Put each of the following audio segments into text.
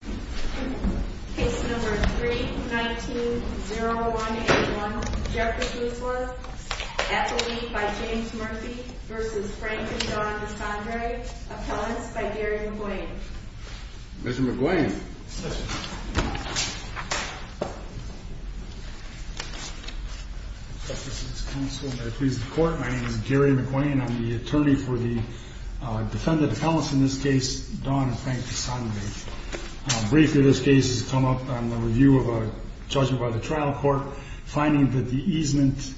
Case number 3-19-0181, Jeffrey Guzlas, appellee by James Murphy v. Frank and Don DeSandre, appellants by Gary McGuane. Mr. McGuane. Thank you. My name is Gary McGuane. I'm the attorney for the defendant appellants in this case, Don and Frank DeSandre. Briefly, this case has come up on the review of a judgment by the trial court, finding that the easement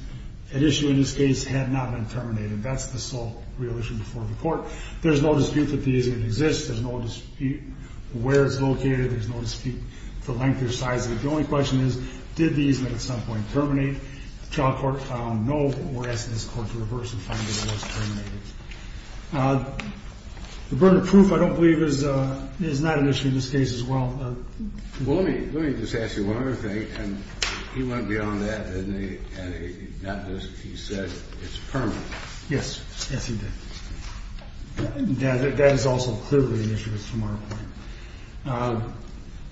at issue in this case had not been terminated. That's the sole real issue before the court. There's no dispute that the easement exists. There's no dispute where it's located. There's no dispute the length or size of it. The only question is, did the easement at some point terminate? The trial court found no, but we're asking this court to reverse and find that it was terminated. The burden of proof, I don't believe, is not an issue in this case as well. Well, let me just ask you one other thing, and he went beyond that, didn't he? He said it's permanent. Yes. Yes, he did. That is also clearly an issue from our point of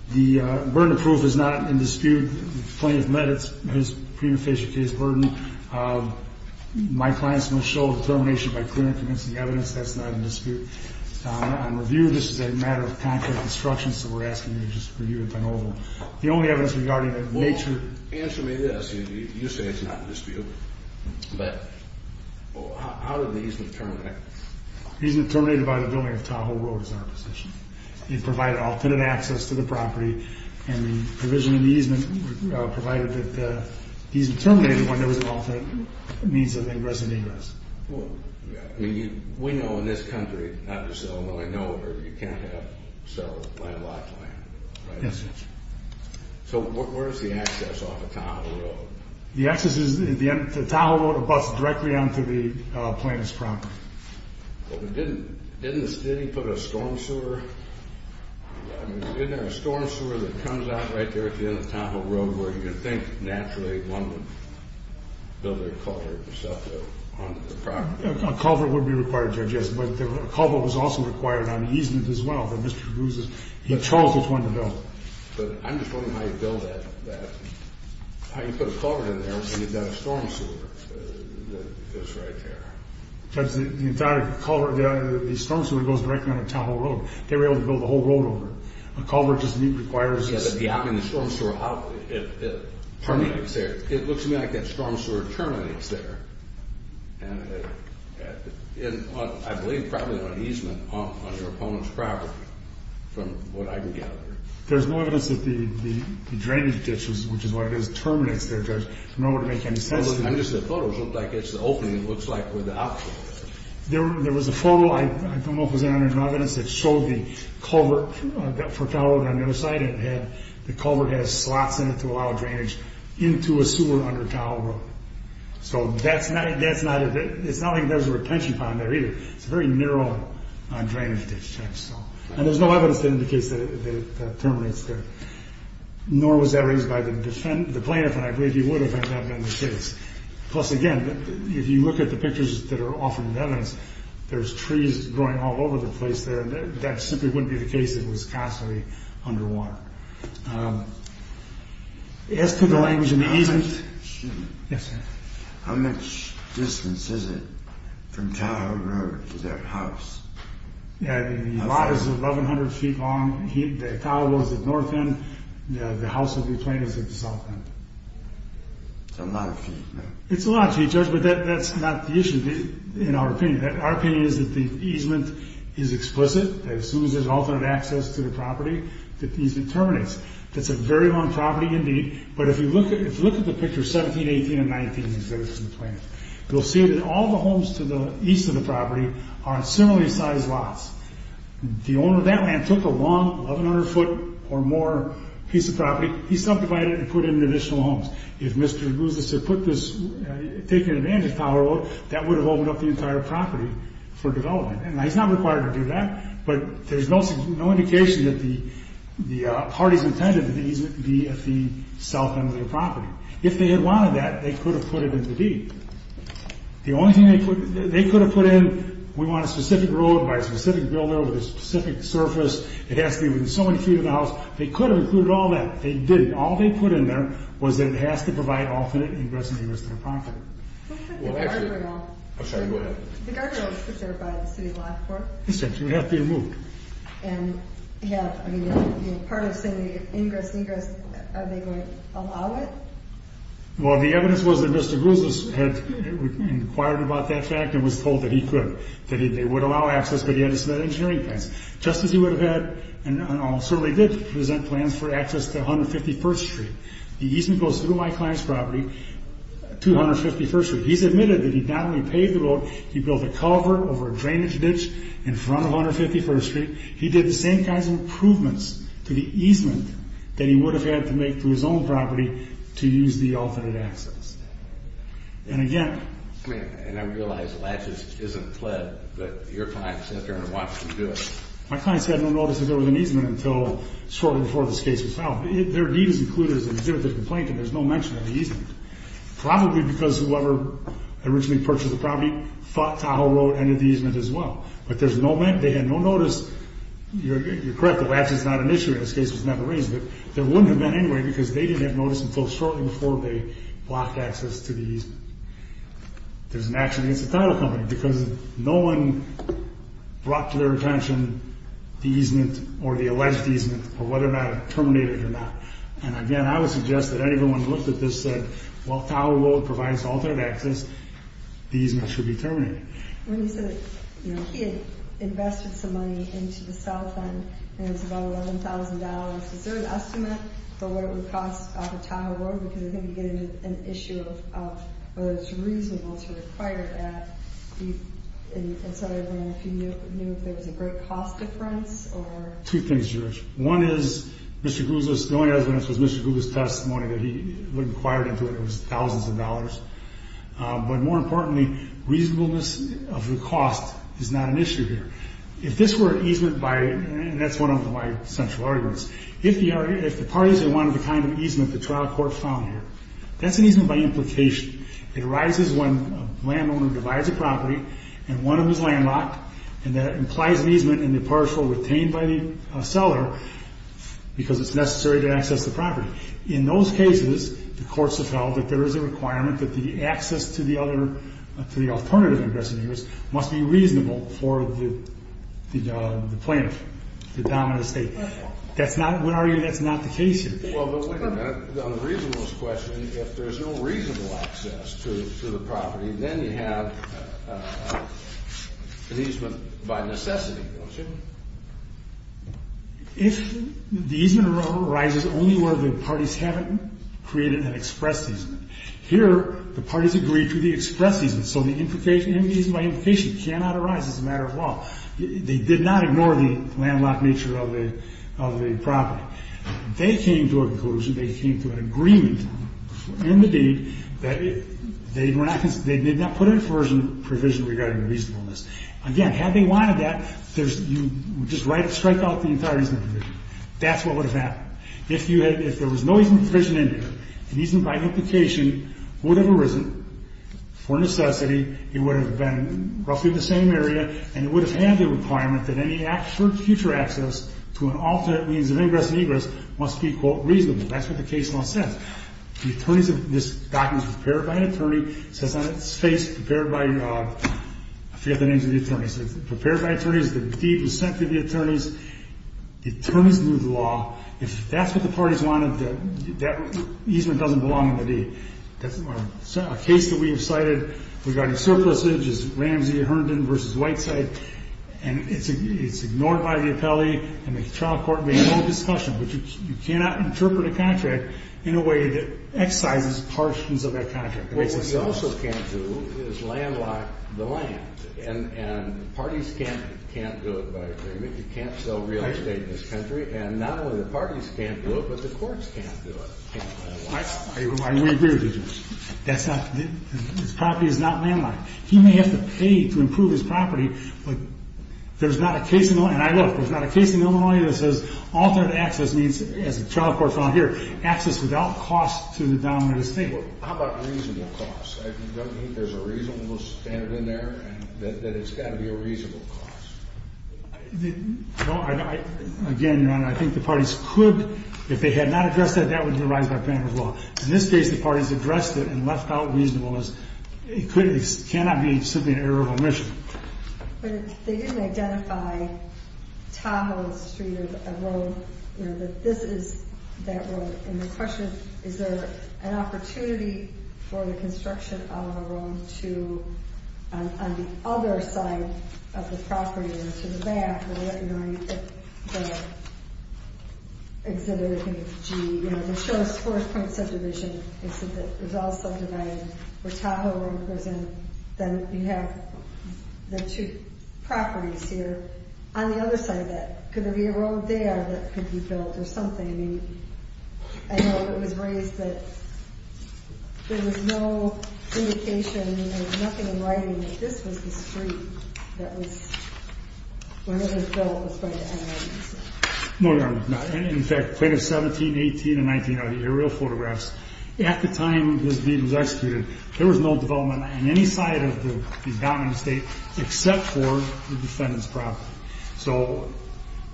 view. The burden of proof is not in dispute. The plaintiff met his prima facie case burden. My clients must show determination by clerk against the evidence. That's not in dispute. On review, this is a matter of concrete instructions, so we're asking you to just review it. The only evidence regarding the nature... Answer me this. You say it's not in dispute, but how did the easement terminate? The easement terminated by the building of Tahoe Road is our position. It provided alternate access to the property, and the provision of the easement provided that the easement terminated when there was an alternate means of ingress and egress. We know in this country, not just Illinois, know where you can't have several landlocked land, right? Yes. So where's the access off of Tahoe Road? The access is at the end of Tahoe Road or bus directly onto the plaintiff's property. Didn't the city put a storm sewer? I mean, isn't there a storm sewer that comes out right there at the end of Tahoe Road where you can think naturally one would build a culvert and stuff onto the property? A culvert would be required, Judge, yes, but a culvert was also required on the easement as well. Mr. Cruz's... Charles just wanted to know. But I'm just wondering how you build that. How you put a culvert in there when you've got a storm sewer that goes right there. Judge, the entire culvert, the storm sewer goes directly onto Tahoe Road. They were able to build the whole road over it. A culvert just requires... Yeah, but the opening of the storm sewer, how it terminates there. It looks to me like that storm sewer terminates there. And I believe probably on an easement on your opponent's property from what I can gather. There's no evidence that the drainage ditches, which is what it is, terminates there, Judge. I don't know what to make of that. I'm just saying the photos look like it's the opening. It looks like where the outflow is. There was a photo I don't know if there's any evidence that showed the culvert for Tahoe Road on the other side. The culvert has slots in it to allow drainage into a sewer under Tahoe Road. So it's not like there's a retention pond there either. It's a very narrow drainage ditch, Judge. And there's no evidence to indicate that it terminates there. Nor was that raised by the plaintiff, and I believe he would have had that been the case. Plus, again, if you look at the pictures that are offering evidence, there's trees growing all over the place there. That simply wouldn't be the case if it was constantly underwater. As to the language in the easement... Yes, sir. How much distance is it from Tahoe Road to that house? The lot is 1,100 feet long. Tahoe Road is at the north end. The house will be planted at the south end. It's a lot of feet. It's a lot of feet, Judge, but that's not the issue in our opinion. Our opinion is that the easement is explicit. As soon as there's alternate access to the property, the easement terminates. It's a very long property indeed, but if you look at the pictures 17, 18, and 19, you'll see that all the homes to the east of the property are on similarly sized lots. The owner of that land took a long 1,100 foot or more piece of property. He subdivided it and put in additional homes. If Mr. Gouzis had taken advantage of Tahoe Road, that would have opened up the entire property for development. He's not required to do that, but there's no indication that the parties intended that the easement be at the south end of the property. If they had wanted that, they could have put it in the deed. The only thing they could have put in, we want a specific road by a specific builder with a specific surface. It has to be within so many feet of the house. They could have included all that. They didn't. All they put in there was that it has to provide alternate ingress and egress to the property. What about the guardrail? I'm sorry, go ahead. The guardrail is preserved by the City of Lafayette Court. It would have to be removed. And part of saying the ingress and egress, are they going to allow it? Well, the evidence was that Mr. Gouzis had inquired about that fact and was told that he could, that they would allow access, but he had to submit engineering plans. Just as he would have had and certainly did present plans for access to 151st Street, the easement goes through my client's property to 151st Street. He's admitted that he not only paved the road, he built a cover over a drainage ditch in front of 151st Street. He did the same kinds of improvements to the easement that he would have had to make to his own property to use the alternate access. And again... And I realize Latches isn't pled, but your client says they're going to watch him do it. My client said no notices were in the easement until shortly before this case was filed. Their deed is included as an exhibit of complaint and there's no mention of the easement. Probably because whoever originally purchased the property thought Tahoe Road ended the easement as well. But there's no mention, they had no notice. You're correct that Latches is not an issue and this case was never raised, but there wouldn't have been anyway because they didn't have notice until shortly before they blocked access to the easement. There's an action against the Tahoe Company because no one brought to their attention the easement or the alleged easement or whether or not it terminated or not. And again, I would suggest that anyone who looked at this said, while Tahoe Road provides alternate access, the easement should be terminated. When you said that he had invested some money into the south end and it was about $11,000, is there an estimate for what it would cost off of Tahoe Road? Because I think you get into an issue of whether it's reasonable to require that. And so I don't know if you knew if there was a great cost difference or... Two things, Judge. One is, Mr. Gouzis, the only evidence was Mr. Gouzis' testimony that he inquired into it. It was thousands of dollars. But more importantly, reasonableness of the cost is not an issue here. If this were an easement by... And that's one of my central arguments. If the parties wanted the kind of easement the trial court found here, that's an easement by implication. It arises when a landowner divides a property and one of them is landlocked and that implies an easement in the parcel retained by the seller because it's necessary to access the property. In those cases, the courts have held that there is a requirement that the access to the other... to the alternative ingressing use must be reasonable for the plaintiff, the dominant state. That's not... we argue that's not the case here. Well, but wait a minute. On the reasonableness question, if there's no reasonable access to the property, then you have an easement by necessity, don't you? If the easement arises only where the parties haven't created an express easement. Here, the parties agree to the express easement, so the easement by implication cannot arise as a matter of law. They did not ignore the landlocked nature of the property. They came to a conclusion, they came to an agreement in the deed that they were not... they did not put in a provision regarding reasonableness. Again, had they wanted that, you would just strike out the entire easement provision. That's what would have happened. If there was no easement provision in here, the easement by implication would have arisen for necessity. It would have been roughly the same area, and it would have had the requirement that any actual future access to an alternate means of ingress and egress must be, quote, reasonable. That's what the case law says. The attorneys have... this document was prepared by an attorney. It says on its face, prepared by... I forget the names of the attorneys. It says prepared by attorneys, the deed was sent to the attorneys, the attorneys moved the law. If that's what the parties wanted, that easement doesn't belong in the deed. A case that we have cited regarding surpluses is Ramsey-Herndon v. Whiteside, and it's ignored by the appellee, and the trial court may have no discussion, but you cannot interpret a contract in a way that excises portions of that contract. What you also can't do is landlock the land, and parties can't do it by agreement. You can't sell real estate in this country, and not only the parties can't do it, but the courts can't do it. I agree with you. That's not... his property is not landlocked. He may have to pay to improve his property, but there's not a case in Illinois, and I know there's not a case in Illinois that says alternate access means, as the trial court found here, access without cost to the dominant estate. How about reasonable cost? There's a reasonable standard in there, and it's got to be a reasonable cost. Again, Your Honor, I think the parties could, if they had not addressed that, that would be a rise by Banner's law. In this case, the parties addressed it and left out reasonable. It cannot be simply an error of omission. But they didn't identify Tahoe Street as a road, that this is that road, and the question is, is there an opportunity for the construction of a road on the other side of the property or to the back? You know, I think it's G. It shows four points of division. It said that it was all subdivided where Tahoe Road goes in. Then you have the two properties here. On the other side of that, could there be a road there that could be built or something? I mean, I know it was raised that there was no indication, there was nothing in writing that this was the street that was, where it was built was going to end up. No, Your Honor, no. In fact, Plaintiffs 17, 18, and 19 are the aerial photographs. At the time this deed was executed, there was no development on any side of the dominant estate except for the defendant's property. So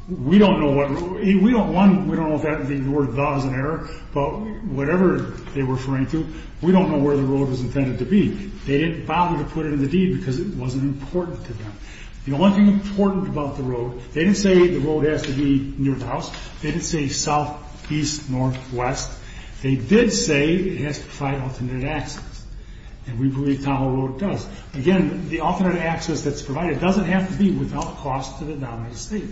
we don't know what, we don't want, we don't know if that word does in error, but whatever they were referring to, we don't know where the road was intended to be. They didn't bother to put it in the deed because it wasn't important to them. The only thing important about the road, they didn't say the road has to be near the house. They didn't say south, east, north, west. They did say it has to provide alternate access, and we believe Tahoe Road does. Again, the alternate access that's provided doesn't have to be without cost to the dominant estate.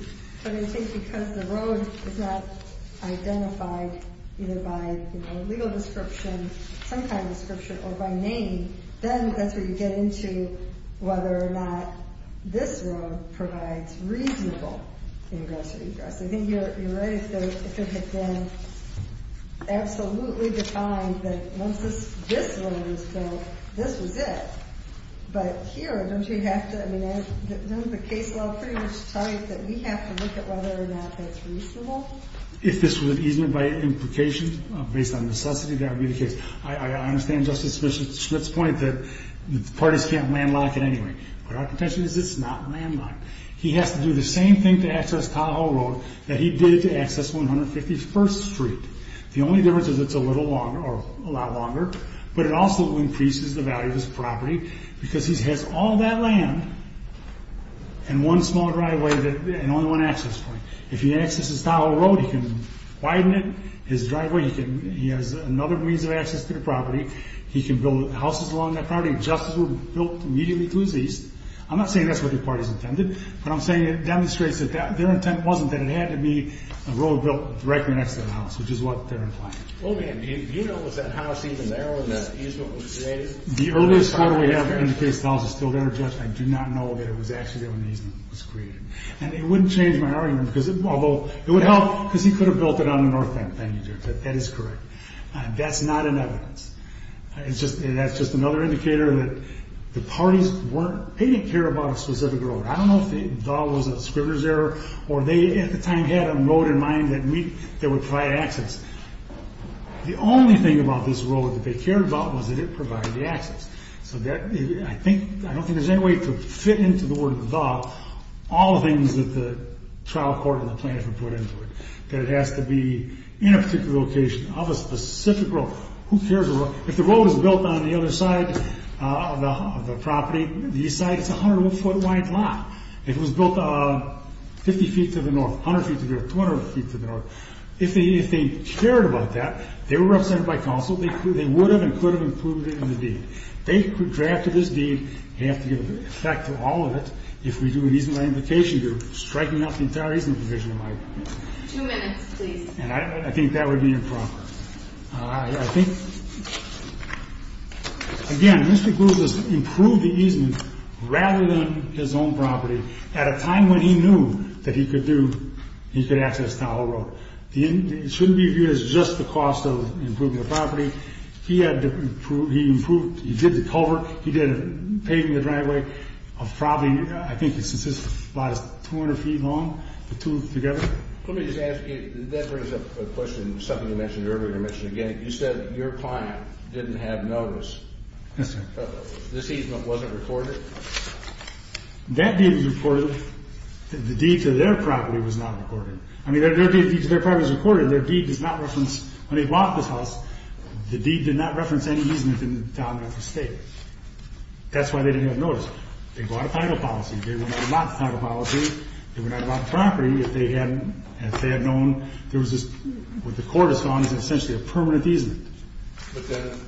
But I think because the road is not identified either by legal description, some kind of description, or by name, then that's where you get into whether or not this road provides reasonable ingress or egress. I think you're right if it had been absolutely defined that once this road was built, this was it. But here, don't you have to, I mean, doesn't the case law pretty much tell you that we have to look at whether or not that's reasonable? If this was an easement by implication, based on necessity, that would be the case. I understand Justice Smith's point that the parties can't landlock it anyway. But our contention is it's not landlocked. He has to do the same thing to access Tahoe Road that he did to access 151st Street. The only difference is it's a little longer, or a lot longer, but it also increases the value of his property because he has all that land and one small driveway and only one access point. If he accesses Tahoe Road, he can widen it, his driveway, he has another means of access to the property, he can build houses along that property just as it was built immediately to his east. I'm not saying that's what the parties intended, but I'm saying it demonstrates that their intent wasn't that it had to be a road built directly next to the house, which is what they're implying. Well, again, do you know, was that house even there when that easement was created? The earliest data we have to indicate this house is still there. Judge, I do not know that it was actually there when the easement was created. And it wouldn't change my argument, although it would help, because he could have built it on the north end, thank you, Judge. That is correct. That's not in evidence. That's just another indicator that the parties didn't care about a specific road. I don't know if the dog was a Springer's error, or they at the time had a road in mind that would provide access. The only thing about this road that they cared about was that it provided the access. So I don't think there's any way to fit into the word of the dog all the things that the trial court and the plaintiff have put into it, that it has to be in a particular location of a specific road. If the road is built on the other side of the property, the east side, it's a 101-foot wide lot. If it was built 50 feet to the north, 100 feet to the north, 200 feet to the north, if they cared about that, if they were represented by counsel, they would have and could have improved it in the deed. If they drafted this deed, they have to give effect to all of it. If we do an easement modification, you're striking out the entire easement provision in my opinion. Two minutes, please. And I think that would be improper. I think, again, Mr. Groves has improved the easement rather than his own property at a time when he knew that he could access the whole road. It shouldn't be viewed as just the cost of improving the property. He did the culvert. He did the paving of the driveway. I think this lot is 200 feet long, the two together. Let me just ask you, that brings up a question, something you mentioned earlier and mentioned again. You said that your client didn't have notice. This easement wasn't recorded? That deed was recorded. The deed to their property was not recorded. I mean, their deed to their property was recorded. Their deed does not reference when they bought this house. The deed did not reference any easement in the town of Memphis State. That's why they didn't have notice. They bought a title policy. They would not have bought the title policy. They would not have bought the property if they had known there was this, what the court has gone on as essentially a permanent easement. But then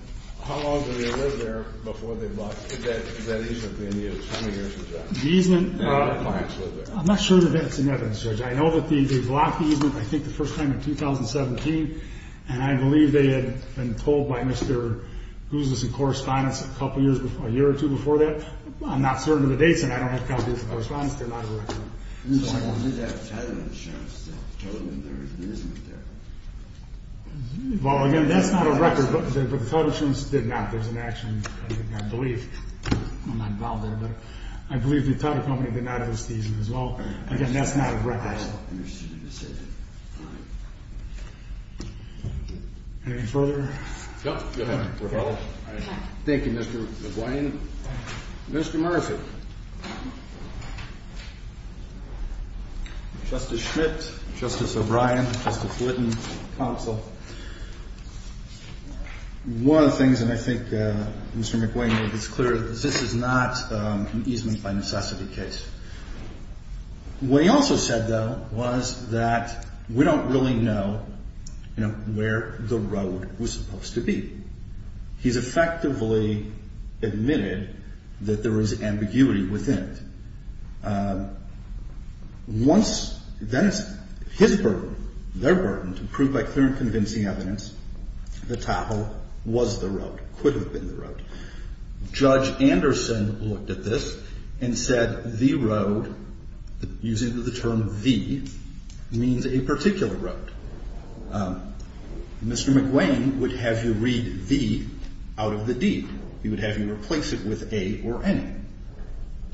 how long did they live there before they bought? Is that easement being used? How many years is that? The easement? How long did the clients live there? I'm not sure that that's in evidence, Judge. I know that they've locked the easement, I think, the first time in 2017, and I believe they had been told by Mr. Gooseless in correspondence a year or two before that. I'm not certain of the dates, and I don't have copies of the correspondence. They're not a record. I believe they had a title insurance that told them there was an easement there. Well, again, that's not a record, but the title insurance did not. There's an action, I believe. I'm not involved in it. I believe the title company did not have a season as well. Again, that's not a record. I don't understand the decision. All right. Anything further? No. Go ahead. Thank you, Mr. McGuane. Mr. Murphy. Justice Schmidt, Justice O'Brien, Justice Whitten, counsel. One of the things, and I think Mr. McGuane made this clear, is this is not an easement by necessity case. What he also said, though, was that we don't really know where the road was supposed to be. He's effectively admitted that there is ambiguity within it. Once then his burden, their burden, to prove by clear and convincing evidence, the title was the road, could have been the road. Judge Anderson looked at this and said the road, using the term the, means a particular road. Mr. McGuane would have you read the out of the deed. He would have you replace it with a or any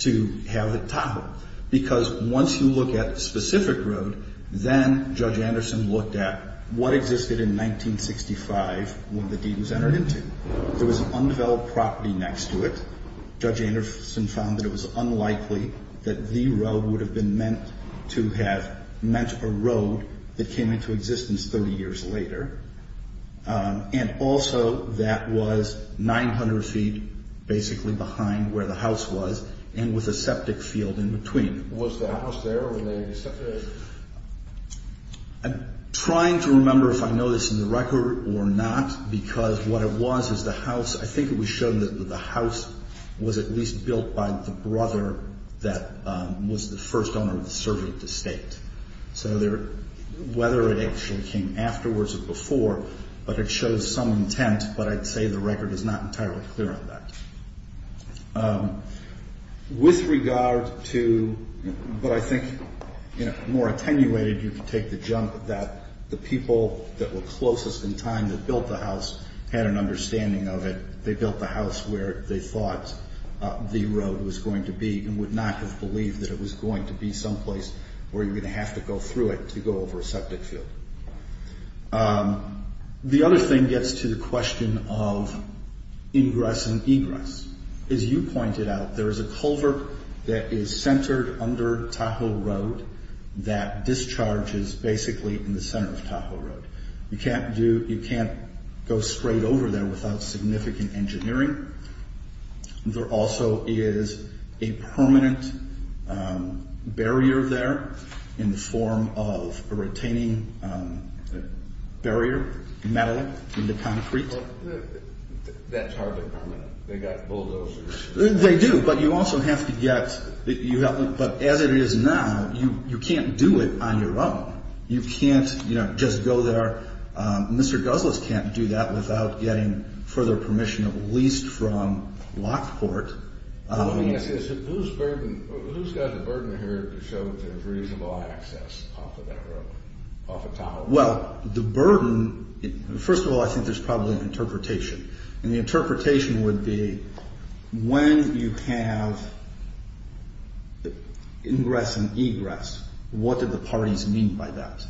to have it toppled. Because once you look at a specific road, then Judge Anderson looked at what existed in 1965 when the deed was entered into. There was an undeveloped property next to it. Judge Anderson found that it was unlikely that the road would have been meant to have, meant a road that came into existence 30 years later. And also that was 900 feet basically behind where the house was and with a septic field in between. Was the house there or were they in the septic? I'm trying to remember if I know this in the record or not because what it was is the house, I think it was shown that the house was at least built by the brother that was the first owner of the surveyed estate. So there, whether it actually came afterwards or before, but it shows some intent, but I'd say the record is not entirely clear on that. With regard to, but I think, you know, more attenuated, you could take the jump that the people that were closest in time that built the house had an understanding of it. They built the house where they thought the road was going to be and would not have believed that it was going to be someplace where you're going to have to go through it to go over a septic field. The other thing gets to the question of ingress and egress. As you pointed out, there is a culvert that is centered under Tahoe Road that discharges basically in the center of Tahoe Road. You can't go straight over there without significant engineering. There also is a permanent barrier there in the form of a retaining barrier, metal into concrete. That's hardly permanent. They've got bulldozers. They do, but you also have to get, but as it is now, you can't do it on your own. You can't, you know, just go there. Mr. Guzles can't do that without getting further permission, at least from Lockport. Who's got the burden here to show that there's reasonable access off of that road, off of Tahoe Road? Well, the burden, first of all, I think there's probably an interpretation. And the interpretation would be when you have ingress and egress, what do the parties mean by that?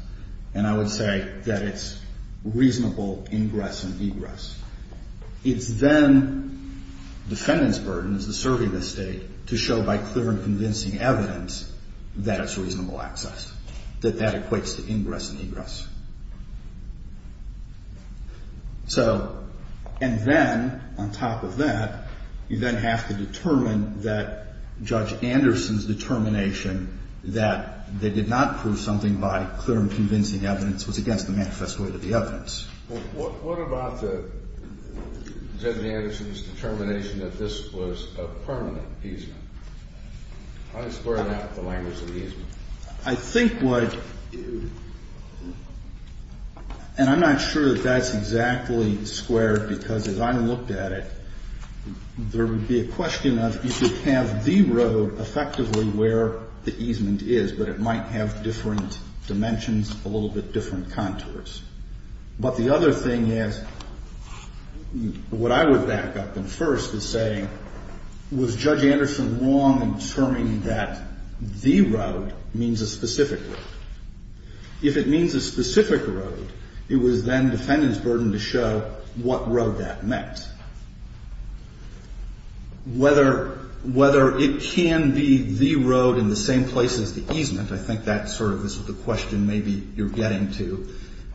And I would say that it's reasonable ingress and egress. It's then defendant's burden, as they survey the state, to show by clear and convincing evidence that it's reasonable access, that that equates to ingress and egress. So, and then, on top of that, you then have to determine that Judge Anderson's determination that they did not prove something by clear and convincing evidence was against the manifest way to the evidence. Well, what about Judge Anderson's determination that this was a permanent easement? How do you square that with the language of the easement? I think what, and I'm not sure that that's exactly squared, because as I looked at it, there would be a question of if you have the road effectively where the easement is, but it might have different dimensions, a little bit different contours. But the other thing is, what I would back up in first is saying, was Judge Anderson wrong in determining that the road means a specific road? If it means a specific road, it was then defendant's burden to show what road that meant. Whether it can be the road in the same place as the easement, I think that's sort of the question maybe you're getting to,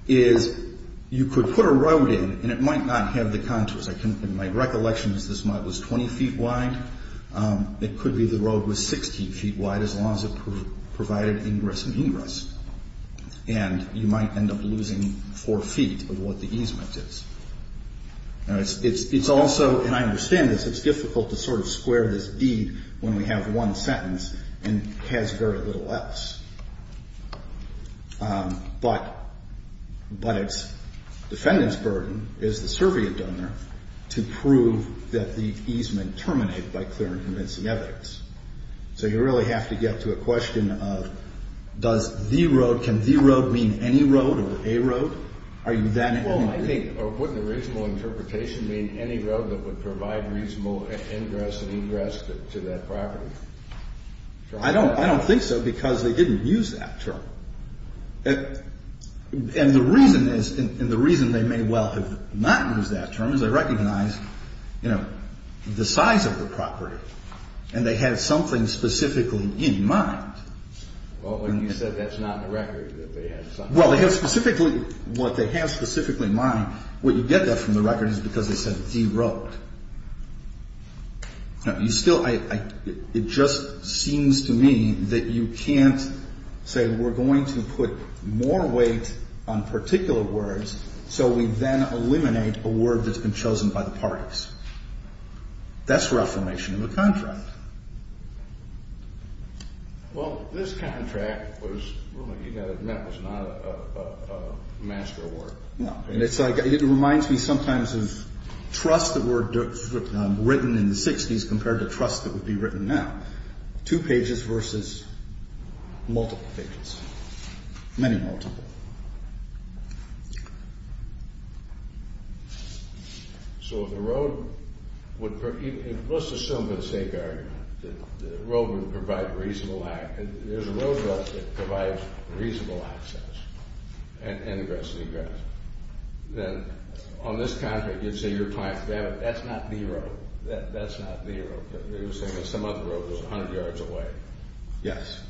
is you could put a road in, and it might not have the contours. In my recollection is this mud was 20 feet wide. It could be the road was 16 feet wide, as long as it provided ingress and egress. And you might end up losing 4 feet of what the easement is. It's also, and I understand this, it's difficult to sort of square this deed when we have one sentence and has very little else. But it's defendant's burden is the survey of donor to prove that the easement terminated by clear and convincing evidence. So you really have to get to a question of does the road, can the road mean any road or a road? Are you then in agreement? Well, I think, or wouldn't a reasonable interpretation mean any road that would provide reasonable ingress and egress to that property? I don't think so, because they didn't use that term. And the reason they may well have not used that term is they recognize the size of the property, and they have something specifically in mind. Well, when you said that's not in the record, that they had something in mind. Well, they have specifically, what they have specifically in mind, what you get there from the record is because they said the road. No, you still, it just seems to me that you can't say we're going to put more weight on particular words so we then eliminate a word that's been chosen by the parties. That's reformation of the contract. Well, this contract was not a master work. It reminds me sometimes of trust that were written in the 60s compared to trust that would be written now. Two pages versus multiple pages. Many multiple. So if the road would, let's assume for the sake of argument that the road would provide reasonable, there's a road that provides reasonable access and ingress and egress. Then on this contract, you'd say you're trying to, that's not the road. That's not the road. You're saying that some other road was 100 yards away. Yes.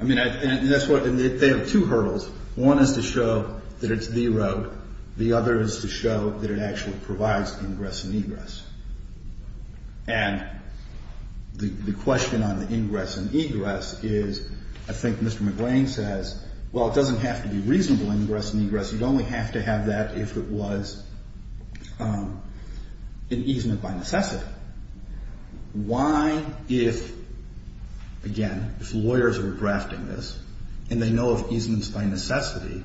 I mean, that's what, they have two hurdles. One is to show that it's the road. The other is to show that it actually provides ingress and egress. And the question on the ingress and egress is, I think Mr. McLean says, well, it doesn't have to be reasonable ingress and egress. You'd only have to have that if it was an easement by necessity. Why, if, again, if lawyers were drafting this and they know of easements by necessity,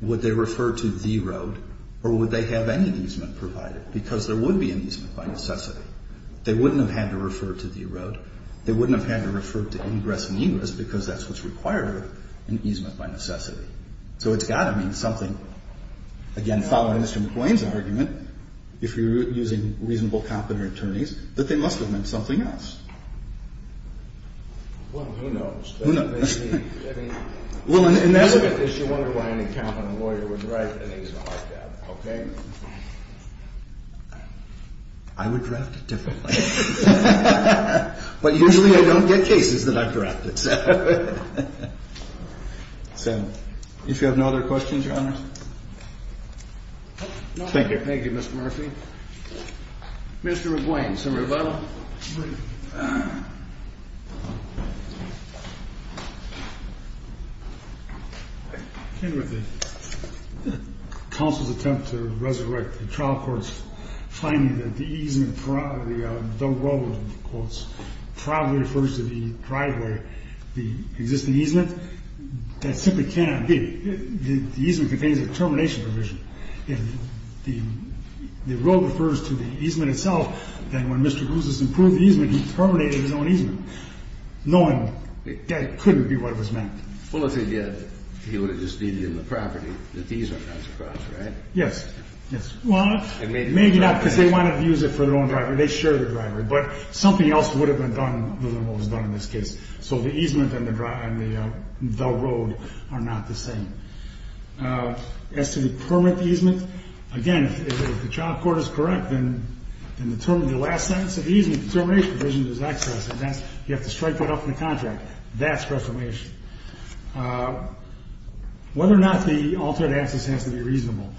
would they refer to the road or would they have any easement provided? Because there would be an easement by necessity. They wouldn't have had to refer to the road. They wouldn't have had to refer to ingress and egress because that's what's required in easement by necessity. So it's got to mean something. Again, following Mr. McLean's argument, if you're using reasonable competent attorneys, that they must have meant something else. Well, who knows? Who knows? I mean, if you look at this, you wonder why any competent lawyer would draft an easement like that, okay? I would draft it differently. But usually I don't get cases that I've drafted. So if you have no other questions, Your Honor. Thank you. Thank you, Mr. Murphy. Mr. McLean, summary of the bible. The counsel's attempt to resurrect the trial court's finding that the easement, the road, quotes, probably refers to the driveway, the existing easement. That simply cannot be. The easement contains a termination provision. If the road refers to the easement itself, then when Mr. Guzis approved the easement, he terminated his own easement. That couldn't be what it was meant. Well, if he did, he would have just needed in the property that the easement runs across, right? Yes. Well, maybe not because they wanted to use it for their own driveway. They share the driveway. But something else would have been done, other than what was done in this case. So the easement and the road are not the same. As to the permit easement, again, if the trial court is correct, then the last sentence of the easement termination provision is excess. You have to strike that off in the contract. That's reformation. Whether or not the altered access has to be reasonable.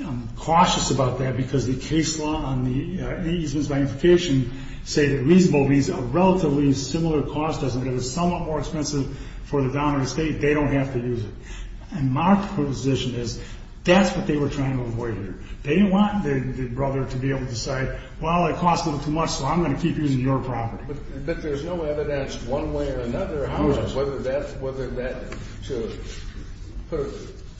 I'm cautious about that because the case law on the easement's magnification say that reasonable means a relatively similar cost. It's somewhat more expensive for the downer estate. They don't have to use it. And my position is that's what they were trying to avoid here. They didn't want their brother to be able to decide, well, it costs a little too much, so I'm going to keep using your property. But there's no evidence one way or another, whether that, to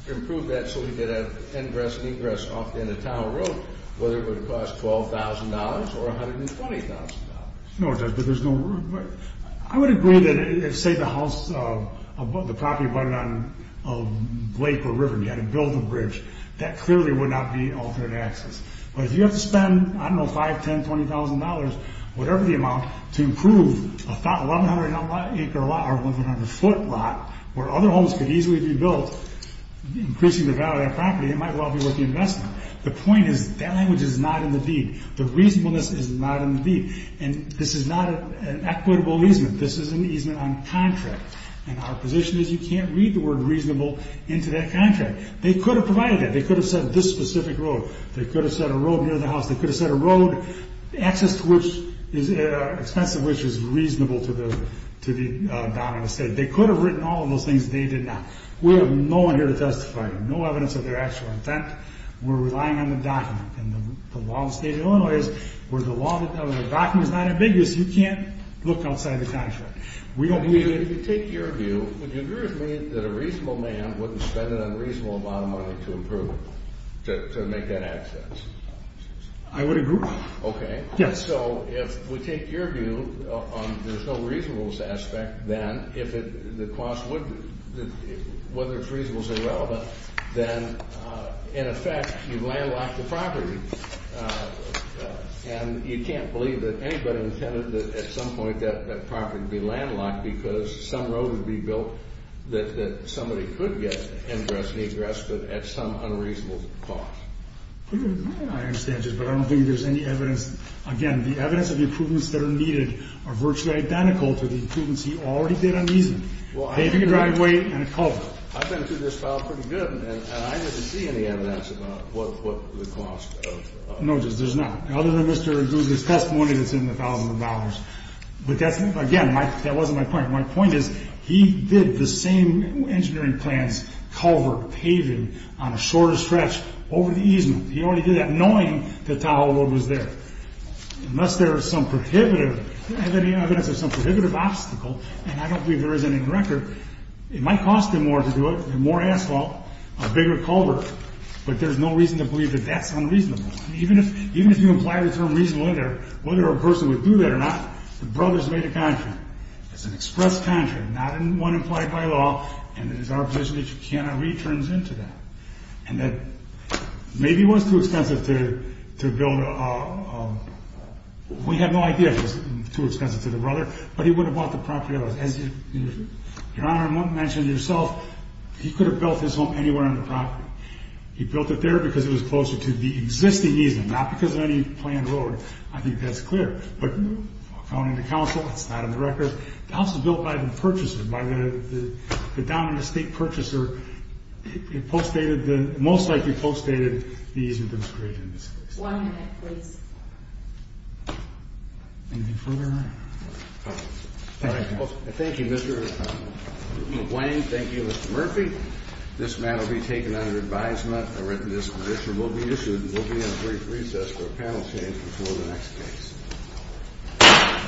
improve that so we could have ingress-negress off the end of Tower Road, whether it would have cost $12,000 or $120,000. No, it doesn't. I would agree that if, say, the property abutted on a lake or river and you had to build a bridge, that clearly would not be altered access. But if you have to spend, I don't know, $5,000, $10,000, $20,000, whatever the amount, to improve a 1,100-acre lot or 1,100-foot lot where other homes could easily be built, increasing the value of that property, it might well be worth the investment. The point is that language is not in the deed. And this is not an equitable easement. This is an easement on contract. And our position is you can't read the word reasonable into that contract. They could have provided that. They could have said this specific road. They could have said a road near the house. They could have said a road, access to which is expensive, which is reasonable to the dominant state. They could have written all of those things. They did not. We have no one here to testify. No evidence of their actual intent. We're relying on the document. And the law in the state of Illinois is where the document is not ambiguous, you can't look outside the contract. We don't need it. If you take your view, would you agree with me that a reasonable man wouldn't spend an unreasonable amount of money to improve, to make that access? I would agree. Okay. Yes. So if we take your view on there's no reasonableness aspect, then if it, the cost wouldn't, whether it's reasonable or irrelevant, then in effect you've landlocked the property. And you can't believe that anybody intended that at some point that property would be landlocked because some road would be built that somebody could get ingress and egress at some unreasonable cost. I understand just, but I don't think there's any evidence. Again, the evidence of the improvements that are needed are virtually identical to the improvements he already did on the easement. Well, I think a driveway and a culvert. I've been through this file pretty good, and I didn't see any evidence about what the cost of. No, Judge, there's not. Other than Mr. Dugan's testimony that's in the thousands of dollars. But that's, again, that wasn't my point. My point is he did the same engineering plans, culvert, paving, on a shorter stretch over the easement. He already did that knowing that Tahoe Road was there. Unless there is some prohibitive, evidence of some prohibitive obstacle, and I don't believe there is any record, it might cost him more to do it, more asphalt, a bigger culvert. But there's no reason to believe that that's unreasonable. Even if you imply the term reasonable in there, whether a person would do that or not, the brothers made a contract. It's an express contract, not one implied by law, and it is our position that you cannot read terms into that. And that maybe was too expensive to build. We have no idea if it was too expensive to the brother, but he would have bought the property otherwise. Your Honor, I want to mention to yourself, he could have built his home anywhere on the property. He built it there because it was closer to the existing easement, not because of any planned road. I think that's clear. But according to counsel, that's not in the record. The house was built by the purchaser, by the dominant estate purchaser. It most likely postdated the easement that was created in this case. One minute, please. Anything further? Thank you, Mr. McWane. Thank you, Mr. Murphy. This matter will be taken under advisement. A written disposition will be issued. We'll be in a brief recess for a panel change before the next case.